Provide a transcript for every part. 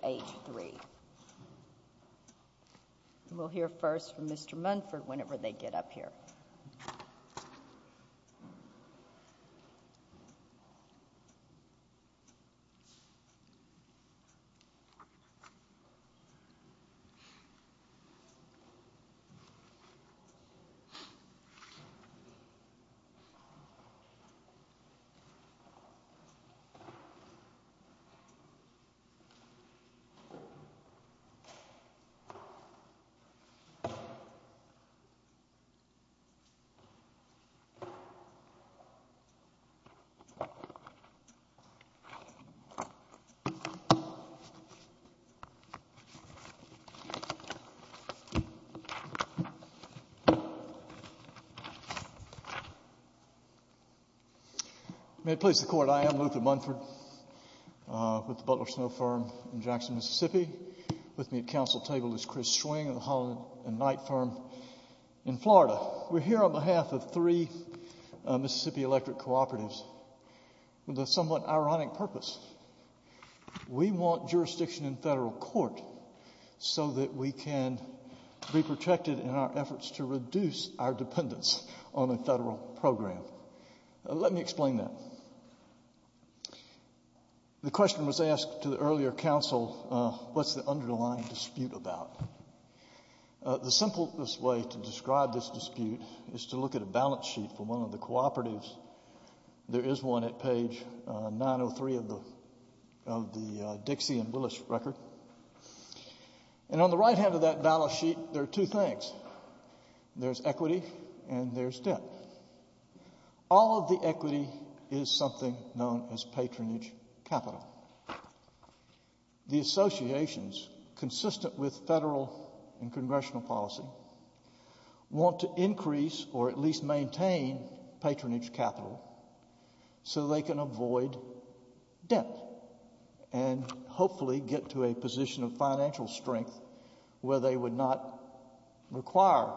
Page 3 We'll hear first from Mr. Munford whenever they get up here. May it please the Court, I am Luther Munford with the Butler Snow Firm in Jacksonville, Mississippi. With me at council table is Chris Schwing of the Holland and Knight Firm in Florida. We're here on behalf of three Mississippi electric cooperatives with a somewhat ironic purpose. We want jurisdiction in federal court so that we can be protected in our efforts to reduce our dependence on a federal program. Let me explain that. The question was asked to the earlier council, what's the underlying dispute about? The simplest way to describe this dispute is to look at a balance sheet from one of the cooperatives. There is one at page 903 of the Dixie and Willis record. And on the right hand of that balance sheet there are two things. There's equity and there's debt. All of the equity is something known as patronage capital. The associations consistent with federal and congressional policy want to increase or at least maintain patronage capital so they can avoid debt and hopefully get to a position of financial strength where they would not require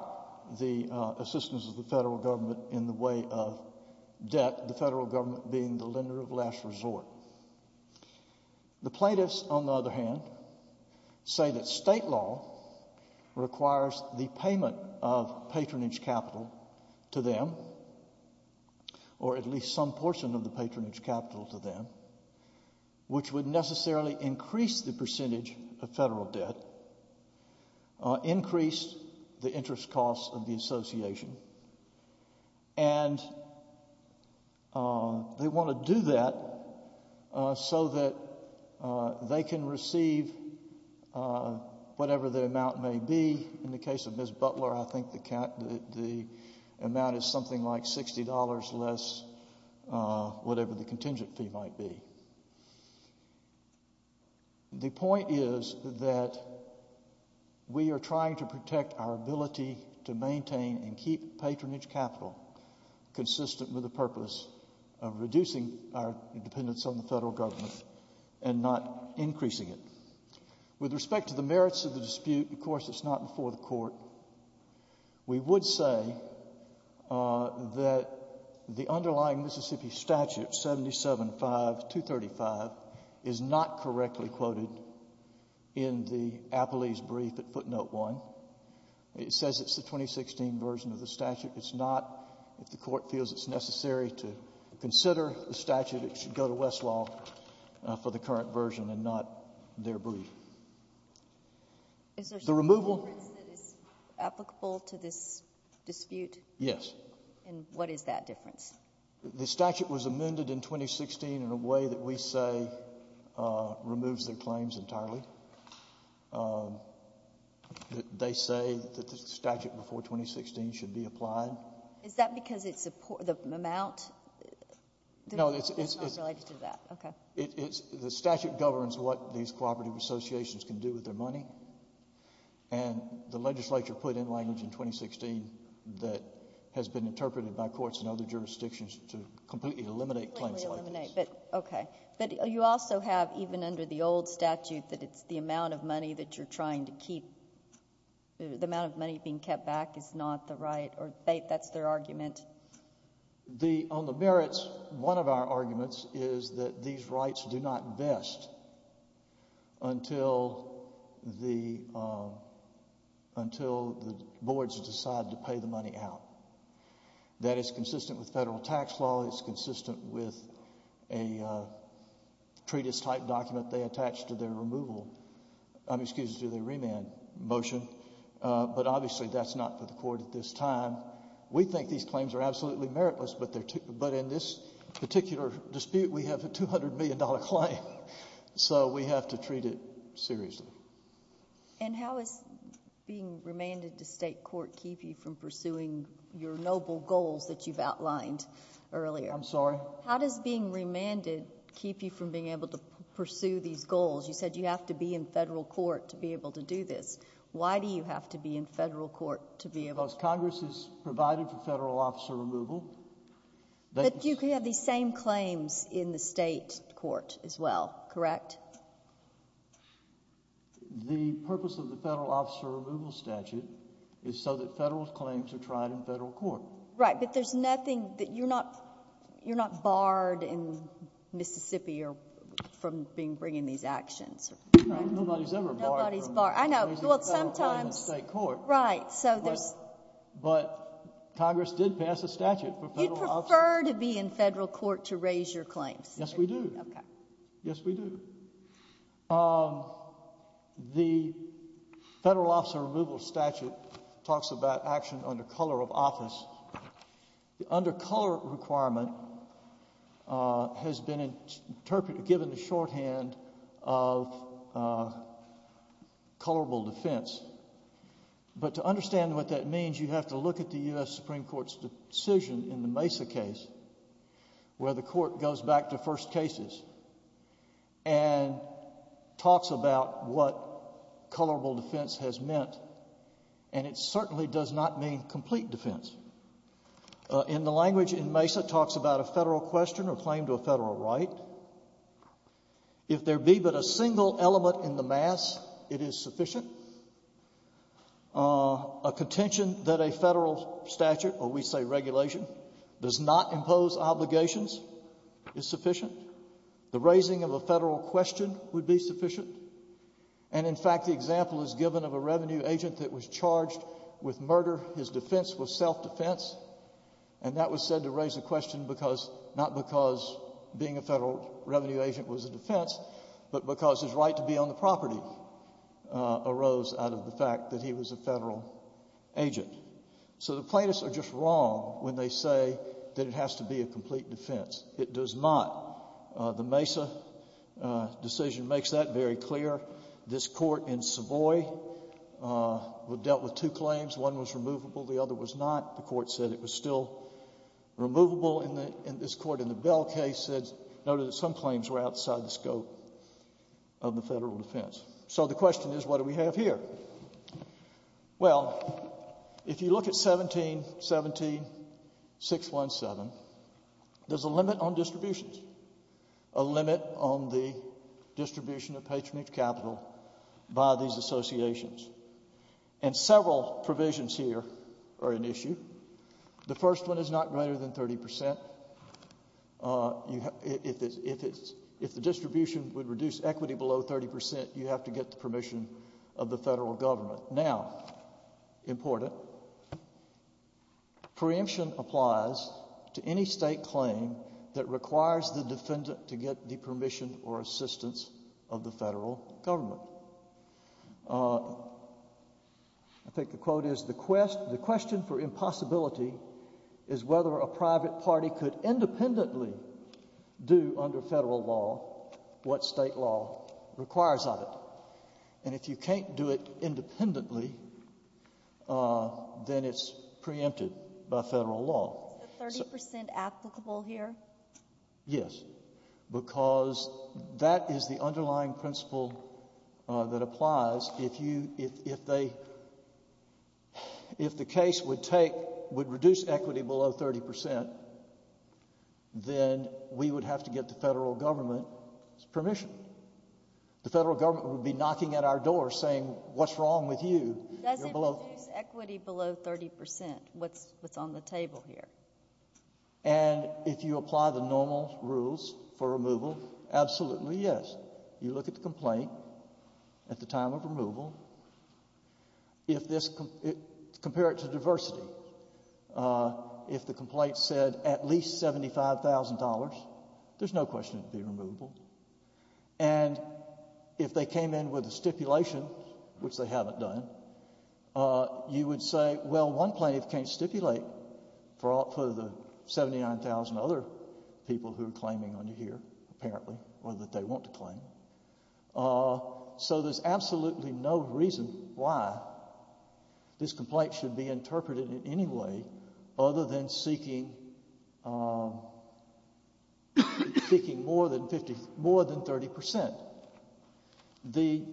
the assistance of the federal government being the lender of last resort. The plaintiffs, on the other hand, say that state law requires the payment of patronage capital to them or at least some portion of the patronage capital to them which would necessarily increase the percentage of federal debt, increase the interest costs of the association. And they want to do that so that they can receive whatever the amount may be. In the case of Ms. Butler, I think the amount is something like $60 less whatever the contingent fee might be. The point is that we are trying to protect our ability to maintain and keep patronage capital consistent with the purpose of reducing our dependence on the federal government and not increasing it. With respect to the merits of the dispute, of course it's not before the court. We would say that the underlying Mississippi statute, 775-235, is not correctly quoted in the Appellee's brief at footnote 1. It says it's the 2016 version of the statute. It's not. If the court feels it's necessary to consider the statute, it should go to Westlaw for the current version and not their brief. Is there some difference that is applicable to this dispute? Yes. And what is that difference? The statute was amended in 2016 in a way that we say removes their claims entirely. They say that the statute before 2016 should be applied. Is that because it's the amount? No, it's... It's not related to that. Okay. The statute governs what these cooperative associations can do with their money. And the legislature put in language in 2016 that has been interpreted by courts in other jurisdictions to completely eliminate claims like this. Completely eliminate. Okay. But you also have even under the old statute that it's the amount of money that you're trying to keep, the amount of money being kept back is not the right or that's their argument? On the merits, one of our arguments is that these rights do not vest until the boards decide to pay the money out. That is consistent with federal tax law. It's consistent with a treatise-type document they have. Obviously, that's not for the court at this time. We think these claims are absolutely meritless, but in this particular dispute, we have a $200 million claim, so we have to treat it seriously. And how is being remanded to state court keep you from pursuing your noble goals that you've outlined earlier? I'm sorry? How does being remanded keep you from being able to pursue these goals? You said you have to be in federal court to be able to... Because Congress has provided for federal officer removal. But you can have these same claims in the state court as well, correct? The purpose of the federal officer removal statute is so that federal claims are tried in federal court. Right, but there's nothing... you're not barred in Mississippi from bringing these actions. Nobody's ever barred... I know. Well, sometimes... Raising federal claims in state court. Right, so there's... But Congress did pass a statute for federal officer... You'd prefer to be in federal court to raise your claims? Yes, we do. Okay. Yes, we do. The federal officer removal statute talks about action under color of office. The under color requirement has been given the shorthand of colorable defense. But to understand what that means, you have to look at the U.S. Supreme Court's decision in the Mesa case, where the court goes back to first cases and talks about what colorable defense has meant. And it certainly does not mean complete defense. And the language in Mesa talks about a federal question or claim to a federal right. If there be but a single element in the mass, it is sufficient. A contention that a federal statute, or we say regulation, does not impose obligations is sufficient. The raising of a federal question would be sufficient. And in fact, the example is given of a revenue agent that was charged with murder. His defense was self-defense. And that was said to raise a question because, not because being a federal revenue agent was a defense, but because his right to be on the property arose out of the fact that he was a federal agent. So the plaintiffs are just wrong when they say that it has to be a complete defense. It does not. The Mesa decision makes that very clear. This court in Savoy dealt with two claims. One was removable. The other was not. The court said it was still removable. And this court in the Bell case said, noted that some claims were outside the scope of the federal defense. So the question is, what do we have here? Well, if you look at 17-17-617, there's a limit on distributions, a limit on the distribution of patronage capital by these associations. And several provisions here are an issue. The first one is not greater than 30%. If the distribution would reduce equity below 30%, you have to get the permission of the federal government. Now, important, quote, preemption applies to any state claim that requires the defendant to get the permission or assistance of the federal government. I think the quote is, the question for impossibility is whether a private party could independently do under federal law what state law requires of it. And if you can't do it independently, then it's preempted by federal law. Is the 30% applicable here? Yes, because that is the underlying principle that applies. If you, if they, if the case would take, would reduce equity below 30%, then we would have to get the federal government's permission. The federal government would be knocking at our door saying, what's wrong with you? Does it reduce equity below 30%? What's, what's on the table here? And if you apply the normal rules for removal, absolutely yes. You look at the complaint at the time of removal. If this, compare it to diversity, if the complaint said at least $75,000, there's no question it would be removable. And if they came in with a stipulation, which they haven't done, you would say, well, one plaintiff can't stipulate for the 79,000 other people who are claiming on you here, apparently, or that they want to claim. So there's absolutely no reason why this complaint should be interpreted in any way other than seeking, seeking more than 50, more than 30%. The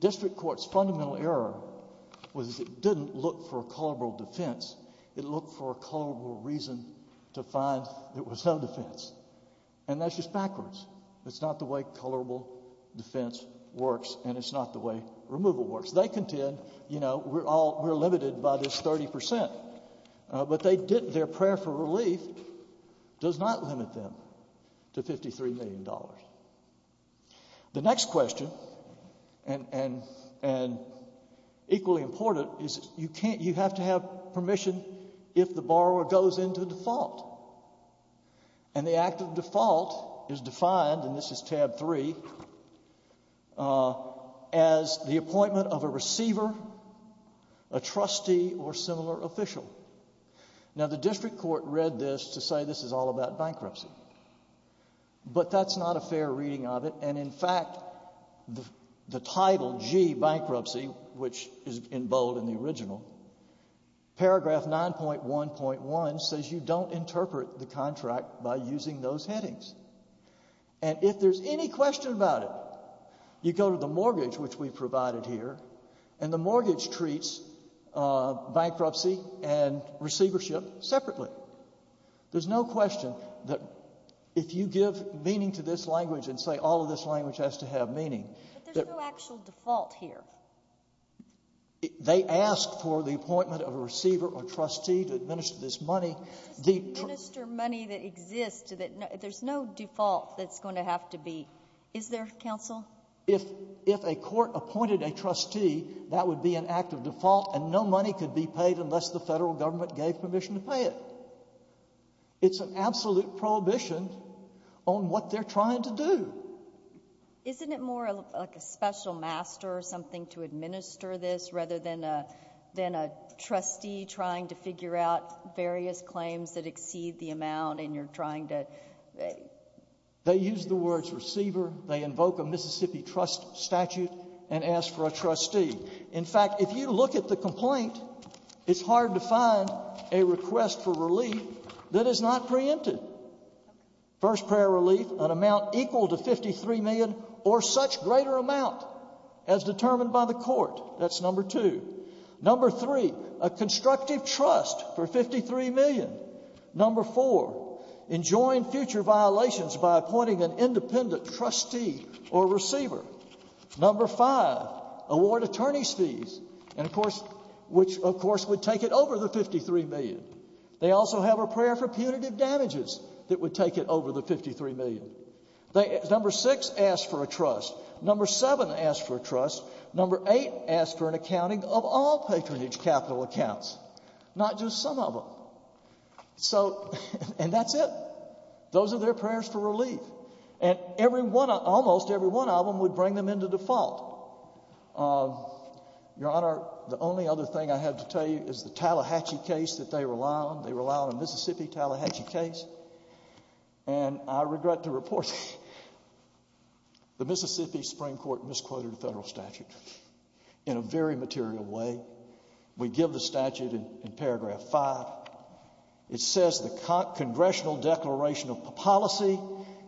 district court's fundamental error was it didn't look for a colorable defense. It looked for a colorable reason to find there was no defense. And that's just backwards. It's not the way colorable defense works and it's not the way removal works. They contend, you know, we're all, we're limited by this 30%. But they didn't, their prayer for relief does not limit them to $53 million. The next question, and, and, and equally important, is you can't, you have to have permission if the borrower goes into default. And the act of default is defined, and this is tab three, as the appointment of a receiver, a trustee, or similar official. Now, the district court read this to say this is all about bankruptcy. But that's not a fair reading of it, and in fact, the title, G, bankruptcy, which is in bold in the original, paragraph 9.1.1 says you don't interpret the contract by using those headings. And if there's any question about it, you go to the mortgage, which we've provided here, and the mortgage treats bankruptcy and receivership separately. There's no question that if you give meaning to this language and say all of this language has to have meaning. But there's no actual default here. They ask for the appointment of a receiver or trustee to administer this money. Just to administer money that exists, there's no default that's going to have to be, is there, counsel? If a court appointed a trustee, that would be an act of default, and no money could be paid unless the federal government gave permission to pay it. It's an absolute prohibition on what they're trying to do. Isn't it more like a special master or something to administer this rather than a trustee trying to figure out various claims that exceed the amount and you're trying to... They use the words receiver. They invoke a Mississippi trust statute and ask for a trustee. In fact, if you look at the complaint, it's hard to find a request for relief that is not preempted. First prayer relief, an amount equal to $53 million or such greater amount as determined by the court. That's number two. Number three, a constructive trust for $53 million. Number four, enjoin future violations by appointing an independent trustee or receiver. Number five, award attorney's fees, which of course would take it over the $53 million. They also have a prayer for punitive damages that would take it over the $53 million. Number six, ask for a trust. Number seven, ask for a trust. Number eight, ask for an accounting of all patronage capital accounts, not just some of them. And that's it. Those are their prayers for relief. And almost every one of them would bring them into default. Your Honor, the only other thing I have to tell you is the Tallahatchie case that they rely on. They rely on a Mississippi Tallahatchie case. And I regret to report the Mississippi Supreme Court misquoted a federal statute in a very material way. We give the statute in paragraph five. It says the congressional declaration of policy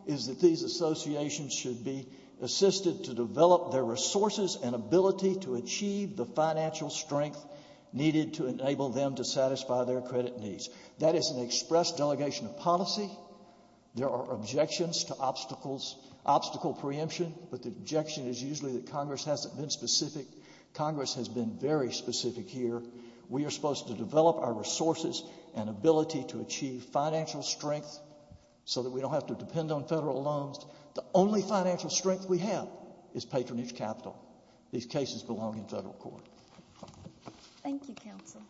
is that these associations should be assisted to develop their resources and ability to achieve the financial strength needed to enable them to satisfy their credit needs. That is an express delegation of policy. There are objections to obstacle preemption, but the objection is usually that Congress hasn't been specific. Congress has been very specific here. We are supposed to develop our resources and ability to achieve financial strength so that we don't have to depend on The only financial strength we have is patronage capital. These cases belong in federal court. Thank you, Counsel.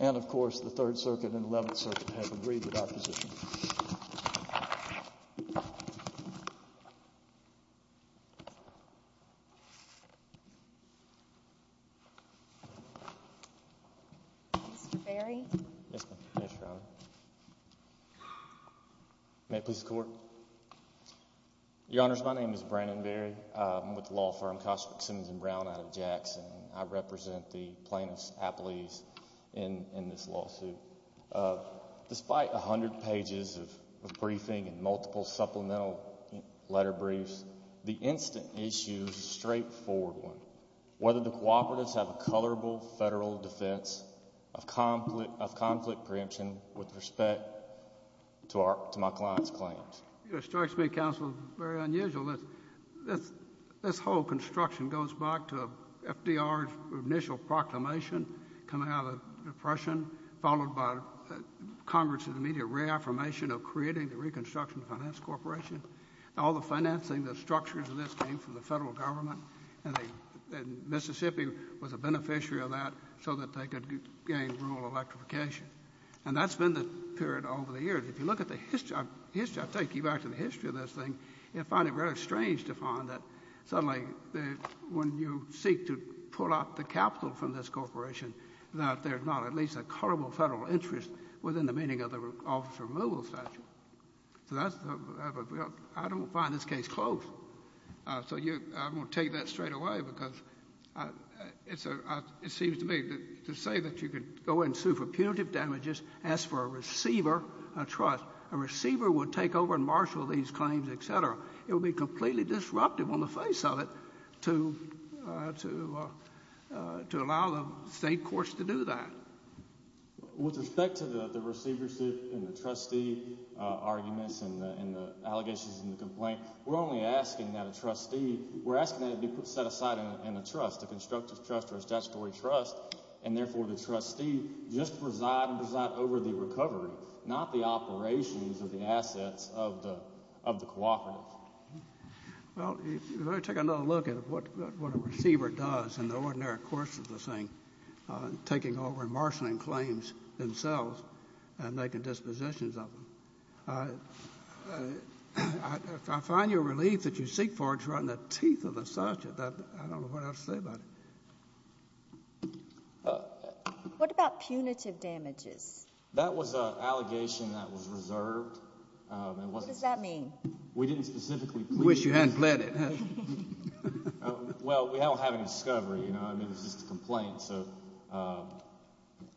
And of course, the Third Circuit and Eleventh Circuit have agreed with our position. Mr. Berry? Yes, Your Honor. May it please the Court? Your Honors, my name is Brandon Berry. I'm with the law firm Cosmic Simmons and Brown out of Jackson. I represent the plaintiffs' appellees in this lawsuit. Despite a hundred pages of briefing and multiple supplemental letter briefs, the instant issue is a straightforward one. Whether the cooperatives have a colorable federal defense of conflict preemption with respect to my client's claims. It strikes me, Counsel, very unusual that this whole construction goes back to FDR's initial proclamation coming out of the Depression, followed by Congress's immediate reaffirmation of creating the Reconstruction Finance Corporation. All the financing, the structures of this came from the federal government, and Mississippi was a beneficiary of that so that they could gain rural electrification. And that's been the period over the years. If you look at the history of this thing, you'll find it very strange to find that suddenly when you seek to pull out the capital from this corporation, that there's not at least a colorable federal interest within the meaning of the officer removal statute. So I don't find this case close. So I'm going to take that straight away because it seems to me that to say that you could go and sue for punitive damages, ask for a receiver, a trust, a receiver would take over and marshal these claims, etc. It would be completely disruptive on the face of it to allow the state courts to do that. With respect to the receivership and the trustee arguments and the allegations in the complaint, we're only asking that a trustee, we're asking that it be set aside in a trust, a constructive trust or a statutory trust, and therefore the trustee just preside and preside over the recovery, not the operations of the assets of the cooperative. Well, if you were to take another look at what a receiver does in the ordinary course of this thing, taking over and marshaling claims themselves and making dispositions of them, I find your relief that you seek for it to run the teeth of the statute. I don't know what else to say about it. What about punitive damages? That was an allegation that was reserved. What does that mean? We didn't specifically plead for it. Wish you hadn't pled it. Well, we don't have any discovery, you know. I mean, it was just a complaint. So,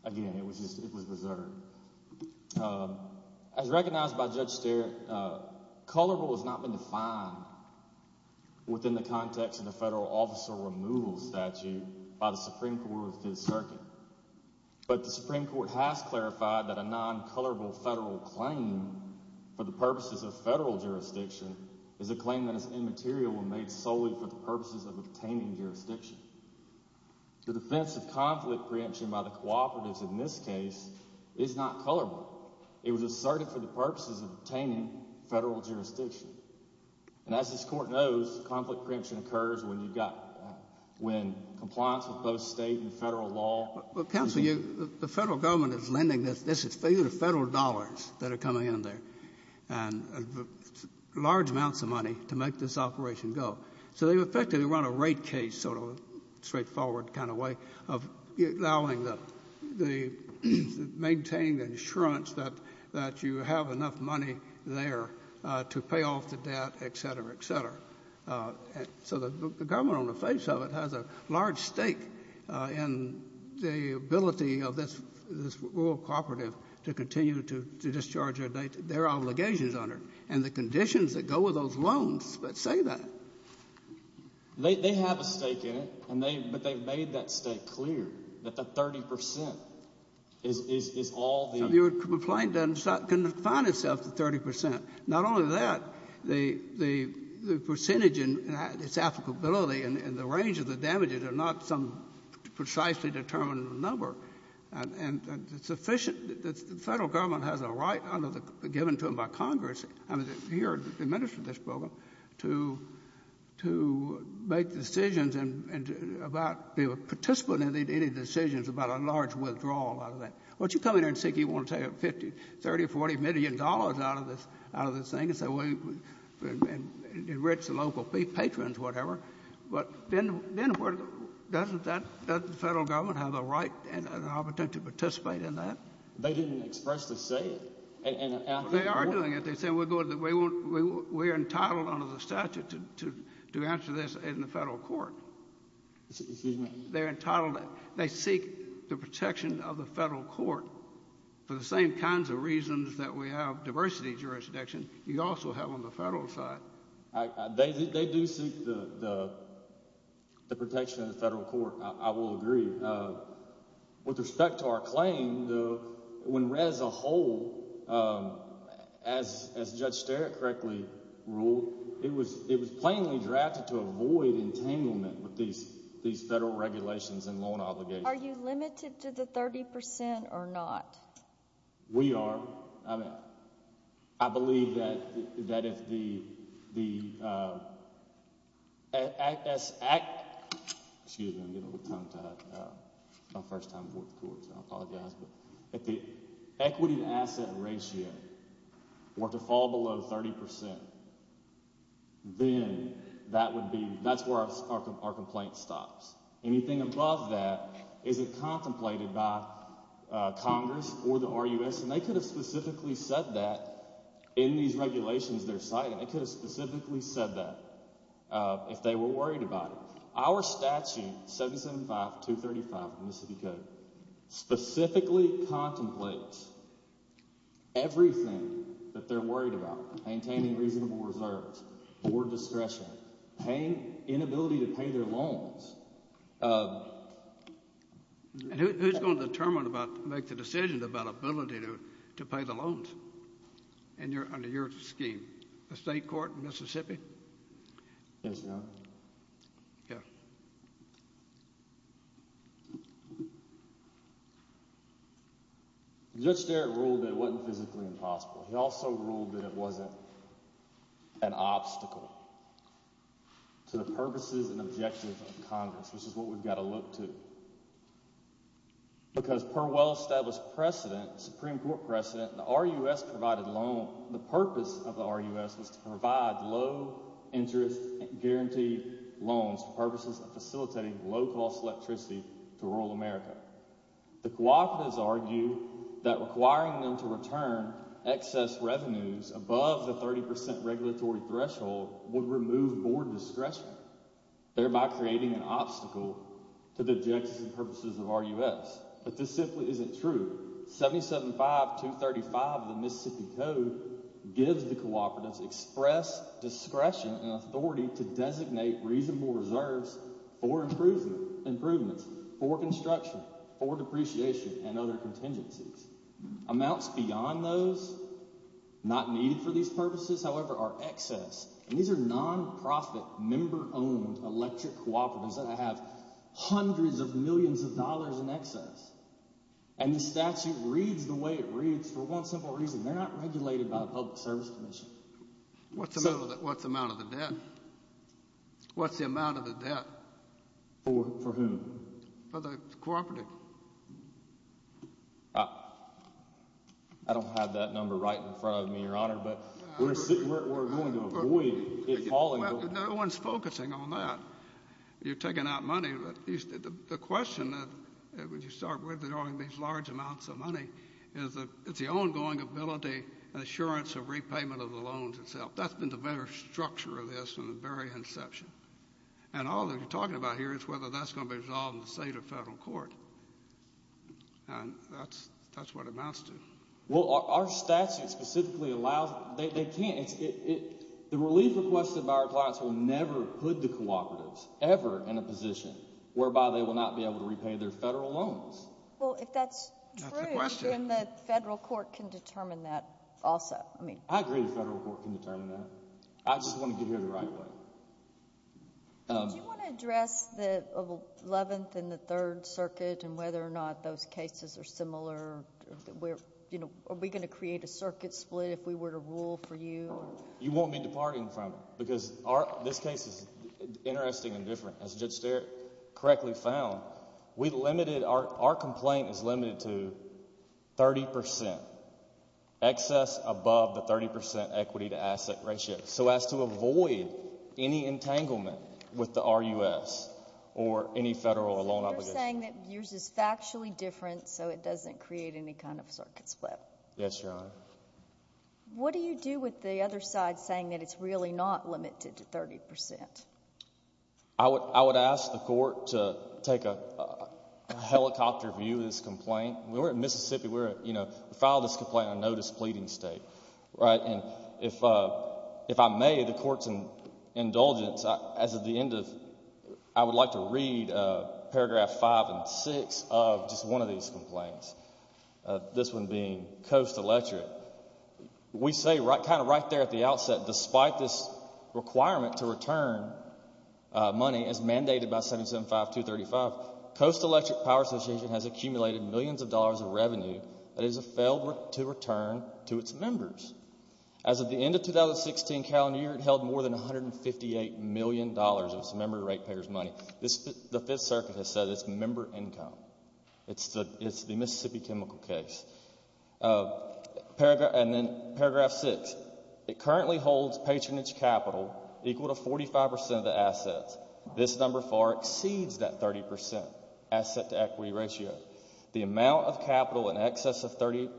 again, it was just, it was reserved. As recognized by Judge Sterritt, colorable has not been defined within the context of the federal officer removal statute by the Supreme Court of the Fifth Circuit, but the Supreme Court has clarified that a non-colorable federal claim for the purposes of federal jurisdiction is a claim that is immaterial and made solely for the purposes of obtaining in this case is not colorable. It was asserted for the purposes of obtaining federal jurisdiction. And as this Court knows, conflict preemption occurs when you've got, when compliance with both state and federal law. Well, counsel, you, the federal government is lending this, this is federal dollars that are coming in there, and large amounts of money to make this operation go. So they effectively run a rate case, sort of straightforward kind of way, of allowing the, the, maintaining the insurance that, that you have enough money there to pay off the debt, et cetera, et cetera. So the government on the face of it has a large stake in the ability of this, this rural cooperative to continue to discharge their, their obligations on it, and the conditions that go with those loans that say that. They, they have a stake in it, and they, but they've made that stake clear, that the 30 percent is, is, is all the… So you would complain that it's not, can find itself at 30 percent. Not only that, the, the, the percentage in its applicability and, and the range of the damages are not some precisely determined number. And, and it's sufficient that the federal government has a right under the, given to them by Congress, I mean, here administering this program, to, to make decisions and, and about be able to participate in any, any decisions about a large withdrawal out of that. Once you come in there and say you want to take 50, 30, 40 million dollars out of this, out of this thing, and say, well, enrich the local patrons, whatever, but then, then doesn't that, doesn't the federal government have a right and an opportunity to participate in that? They didn't expressly say it. And, and… Well, they are doing it. They're saying we're going to, we won't, we, we're entitled under the statute to, to, to answer this in the federal court. Excuse me? They're entitled, they seek the protection of the federal court for the same kinds of reasons that we have diversity jurisdiction, you also have on the federal side. I, I, they, they do seek the, the, the protection of the federal court, I, I will agree. With respect to our claim, the, when Rez a whole, as, as Judge Sterik correctly ruled, it was, it was plainly drafted to avoid entanglement with these, these federal regulations and loan obligations. Are you limited to the 30% or not? We are. I mean, I believe that, that if the, the act, excuse me, I'm getting a little tongue-tied, it's my first time before the court, so I apologize, but if the equity to asset ratio were to fall below 30%, then that would be, that's where our complaint stops. Anything above that isn't contemplated by Congress or the RUS, and they could have specifically said that in these regulations they're citing. They could have specifically said that if they were worried about it. Our statute, 775-235 of the Mississippi Code, specifically contemplates everything that they're worried about, maintaining reasonable reserves, board discretion, paying, inability to pay their loans. And who's going to determine about, make the decision about ability to, to pay the loans under your scheme? The state court in Mississippi? Yes, Your Honor. Yes. Judge Sterik ruled that it wasn't physically impossible. He also ruled that it wasn't an obstacle to the purposes and objectives of Congress, which is what we've got to look to, because per well-established precedent, Supreme Court precedent, the RUS provided loan, the purpose of the RUS was to provide low-interest guaranteed loans for purposes of facilitating low-cost electricity to rural America. The cooperatives argue that requiring them to return excess revenues above the 30% regulatory threshold would remove board discretion, thereby creating an obstacle to the objectives and purposes of RUS. But this simply isn't true. 775-235 of the Mississippi Code gives the cooperatives express discretion and authority to designate reasonable reserves for improvements, for construction, for depreciation, and other contingencies. Amounts beyond those, not needed for these purposes, however, are excess. And these are non-profit, member-owned electric cooperatives that have hundreds of millions of dollars in excess. And the statute reads the way it reads for one simple reason. They're not regulated by the Public Service Commission. What's the amount of the debt? What's the amount of the debt? For whom? For the cooperative. I don't have that number right in front of me, Your Honor, but we're going to avoid it falling over. No one's focusing on that. You're taking out money. The question, when you start withdrawing these large amounts of money, is the ongoing ability and assurance of repayment of the loans itself. That's been the very structure of this from the very inception. And all that you're talking about here is whether that's going to be resolved in the state or federal court. And that's what it amounts to. Well, our statute specifically allows it. They can't. The relief requested by our clients will never put the cooperatives ever in a position whereby they will not be able to repay their federal loans. Well, if that's true, then the federal court can determine that also. I agree the federal court can determine that. I just want to get here the right way. Do you want to address the Eleventh and the Third Circuit and whether or not those cases are similar? Are we going to create a circuit split if we were to rule for you? You won't be departing from it because this case is interesting and different. As Judge Sterik correctly found, our complaint is limited to 30 percent, excess above the 30 percent equity to asset ratio, so as to avoid any entanglement with the RUS or any federal loan obligation. You're saying that yours is factually different, so it doesn't create any kind of circuit split. Yes, Your Honor. What do you do with the other side saying that it's really not limited to 30 percent? I would ask the court to take a helicopter view of this complaint. We're in Mississippi. We filed this complaint on no displeasing state, right? And if I may, the court's indulgence, as of the end of— I would like to read paragraph five and six of just one of these complaints, this one being Coast Electric. We say kind of right there at the outset, despite this requirement to return money as mandated by 775-235, Coast Electric Power Association has accumulated millions of dollars of revenue that it has failed to return to its members. As of the end of the 2016 calendar year, it held more than $158 million of its member rate payers' money. The Fifth Circuit has said it's member income. It's the Mississippi chemical case. And then paragraph six. It currently holds patronage capital equal to 45 percent of the assets. This number far exceeds that 30 percent asset-to-equity ratio. The amount of capital in excess of 30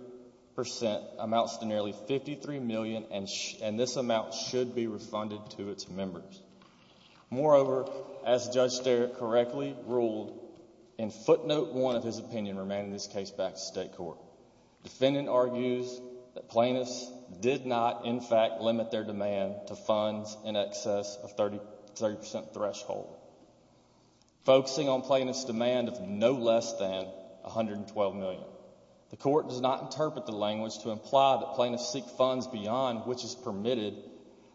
percent amounts to nearly $53 million, and this amount should be refunded to its members. Moreover, as Judge Sterik correctly ruled in footnote one of his opinion remaining in this case back to state court, defendant argues that plaintiffs did not in fact limit their demand to funds in excess of 30 percent threshold, focusing on plaintiffs' demand of no less than $112 million. The court does not interpret the language to imply that plaintiffs seek funds beyond which is permitted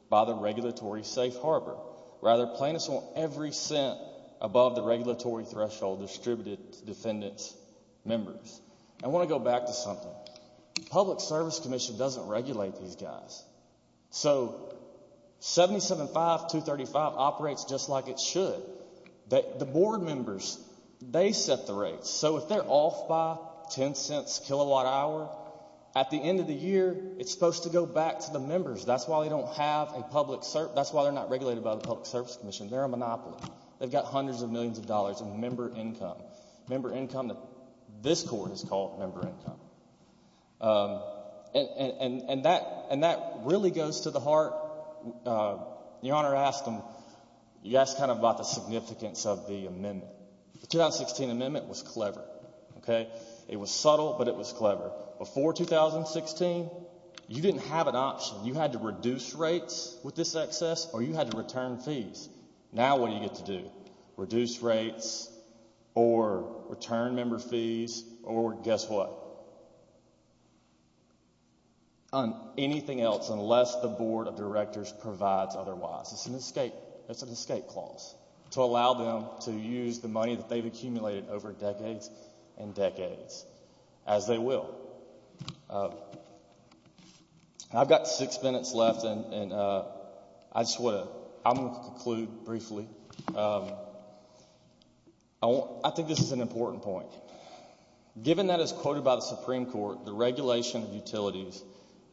by the regulatory safe harbor. Rather, plaintiffs want every cent above the regulatory threshold distributed to defendants' members. I want to go back to something. The Public Service Commission doesn't regulate these guys. So 775-235 operates just like it should. The board members, they set the rates. So if they're off by $0.10 kilowatt hour, at the end of the year it's supposed to go back to the members. That's why they don't have a public service. That's why they're not regulated by the Public Service Commission. They're a monopoly. They've got hundreds of millions of dollars in member income, member income that this court has called member income. And that really goes to the heart. Your Honor asked them, you asked kind of about the significance of the amendment. The 2016 amendment was clever. It was subtle, but it was clever. Before 2016, you didn't have an option. You had to reduce rates with this excess or you had to return fees. Now what do you get to do? Reduce rates or return member fees or guess what? Anything else unless the Board of Directors provides otherwise. It's an escape clause to allow them to use the money that they've accumulated over decades and decades, as they will. I've got six minutes left and I just want to conclude briefly. I think this is an important point. Given that it's quoted by the Supreme Court, the regulation of utilities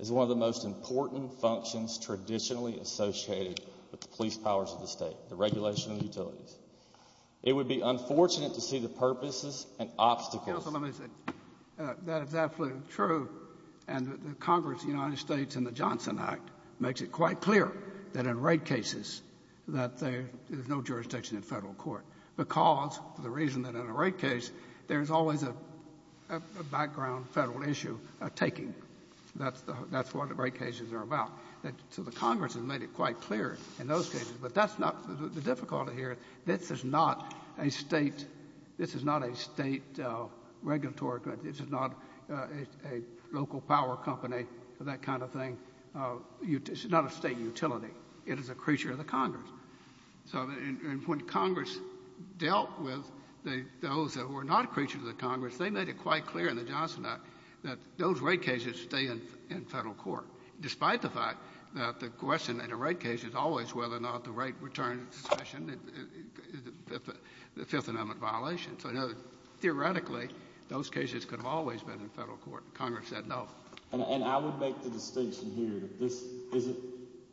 is one of the most important functions traditionally associated with the police powers of the state, the regulation of utilities. It would be unfortunate to see the purposes and obstacles. Counsel, let me say, that is absolutely true. And the Congress of the United States in the Johnson Act makes it quite clear that in rate cases that there is no jurisdiction in Federal court because, for the reason that in a rate case, there is always a background Federal issue taking. That's what the rate cases are about. So the Congress has made it quite clear in those cases. But that's not the difficulty here. This is not a state regulatory. This is not a local power company, that kind of thing. This is not a state utility. It is a creature of the Congress. So when Congress dealt with those that were not creatures of the Congress, they made it quite clear in the Johnson Act that those rate cases stay in Federal court, despite the fact that the question in a rate case is always whether or not the rate returns the Fifth Amendment violation. So theoretically, those cases could have always been in Federal court. Congress said no. And I would make the distinction here that this isn't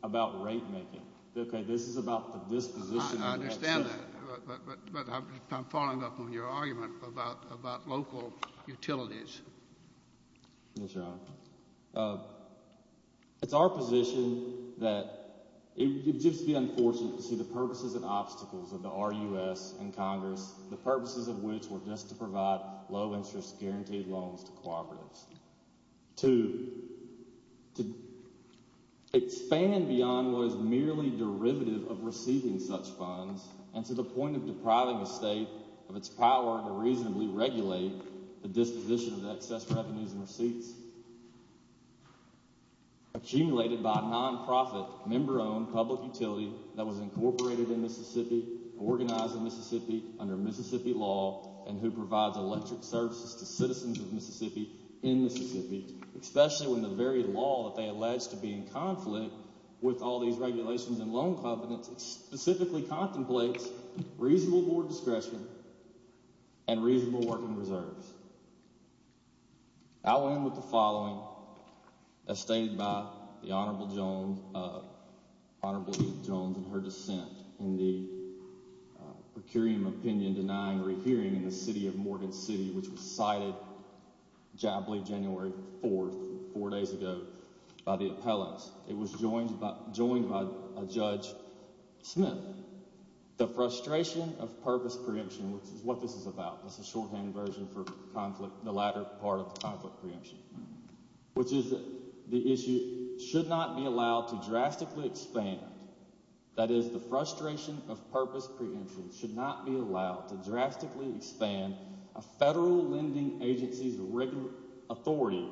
about rate making. Okay? This is about the disposition. I understand that. But I'm following up on your argument about local utilities. Yes, Your Honor. It's our position that it would just be unfortunate to see the purposes and obstacles of the RUS and Congress, the purposes of which were just to provide low-interest guaranteed loans to cooperatives, to expand beyond what is merely derivative of receiving such funds and to the point of depriving a cooperative of excess revenues and receipts accumulated by a nonprofit member-owned public utility that was incorporated in Mississippi, organized in Mississippi under Mississippi law, and who provides electric services to citizens of Mississippi in Mississippi, especially when the very law that they allege to be in conflict with all these regulations and loan covenants specifically contemplates reasonable board discretion and reasonable working reserves. I'll end with the following, as stated by the Honorable Jones in her dissent in the per curiam opinion denying rehearing in the city of Morgan City, which was cited, I believe, January 4th, four days ago, by the appellants. It was joined by Judge Smith. The frustration of purpose prediction, which is what this is about, this is a long-hand version for conflict, the latter part of the conflict preemption, which is the issue should not be allowed to drastically expand, that is, the frustration of purpose preemption should not be allowed to drastically expand a federal lending agency's authority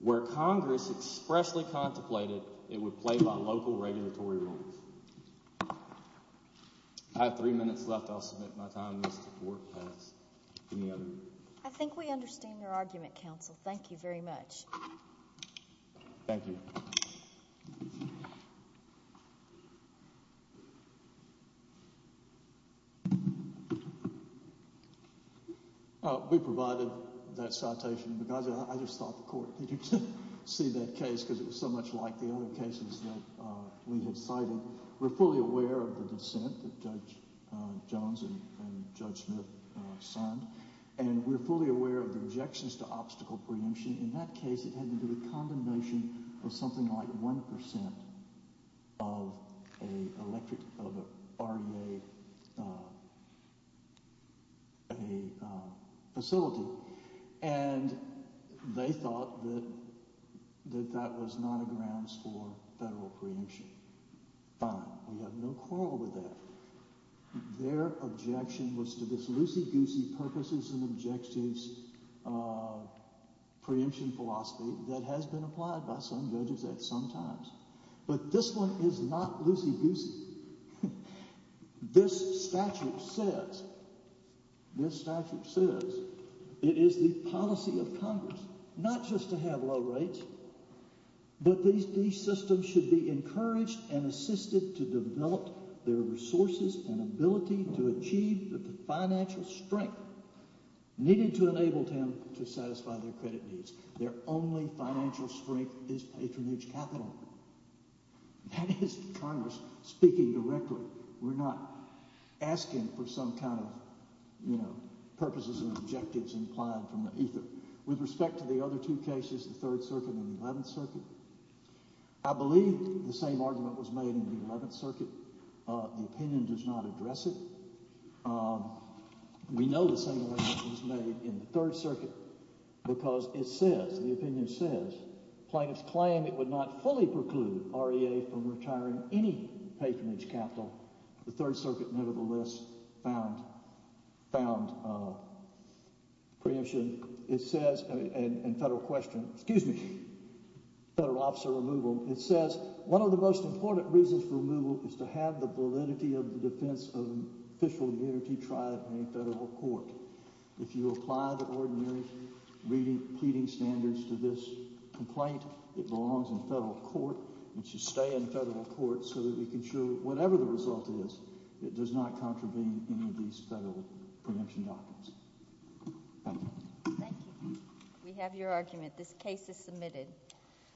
where Congress expressly contemplated it would play by local regulatory rules. I have three minutes left. I'll submit my time. I think we understand your argument, counsel. Thank you very much. Thank you. We provided that citation because I just thought the court needed to see that case because it was so much like the other cases that we had cited. We're fully aware of the dissent that Judge Jones and Judge Smith signed, and we're fully aware of the rejections to obstacle preemption. In that case, it had to do with condemnation of something like 1% of a grounds for federal preemption. Fine. We have no quarrel with that. Their objection was to this loosey-goosey purposes and objectives preemption philosophy that has been applied by some judges at some times. But this one is not loosey-goosey. This statute says it is the policy of Congress not just to have low rates, but these systems should be encouraged and assisted to develop their resources and ability to achieve the financial strength needed to enable them to satisfy their credit needs. Their only financial strength is patronage capital. That is Congress speaking directly. We're not asking for some kind of purposes and objectives implied from either. With respect to the other two cases, the Third Circuit and the Eleventh Circuit, I believe the same argument was made in the Eleventh Circuit. The opinion does not address it. We know the same argument was made in the Third Circuit because it says, the opinion says, plaintiffs claim it would not fully preclude REA from retiring any patronage capital. The Third Circuit, nevertheless, found preemption. In federal question, excuse me, federal officer removal, it says, one of the most important reasons for removal is to have the validity of the defense of an official of the N.R.T. tribe in a federal court. If you apply the ordinary pleading standards to this complaint, it belongs in federal court. It should stay in federal court so that we can show that whatever the result is, it does not contravene any of these federal preemption documents. Thank you. Thank you. We have your argument. This case is submitted.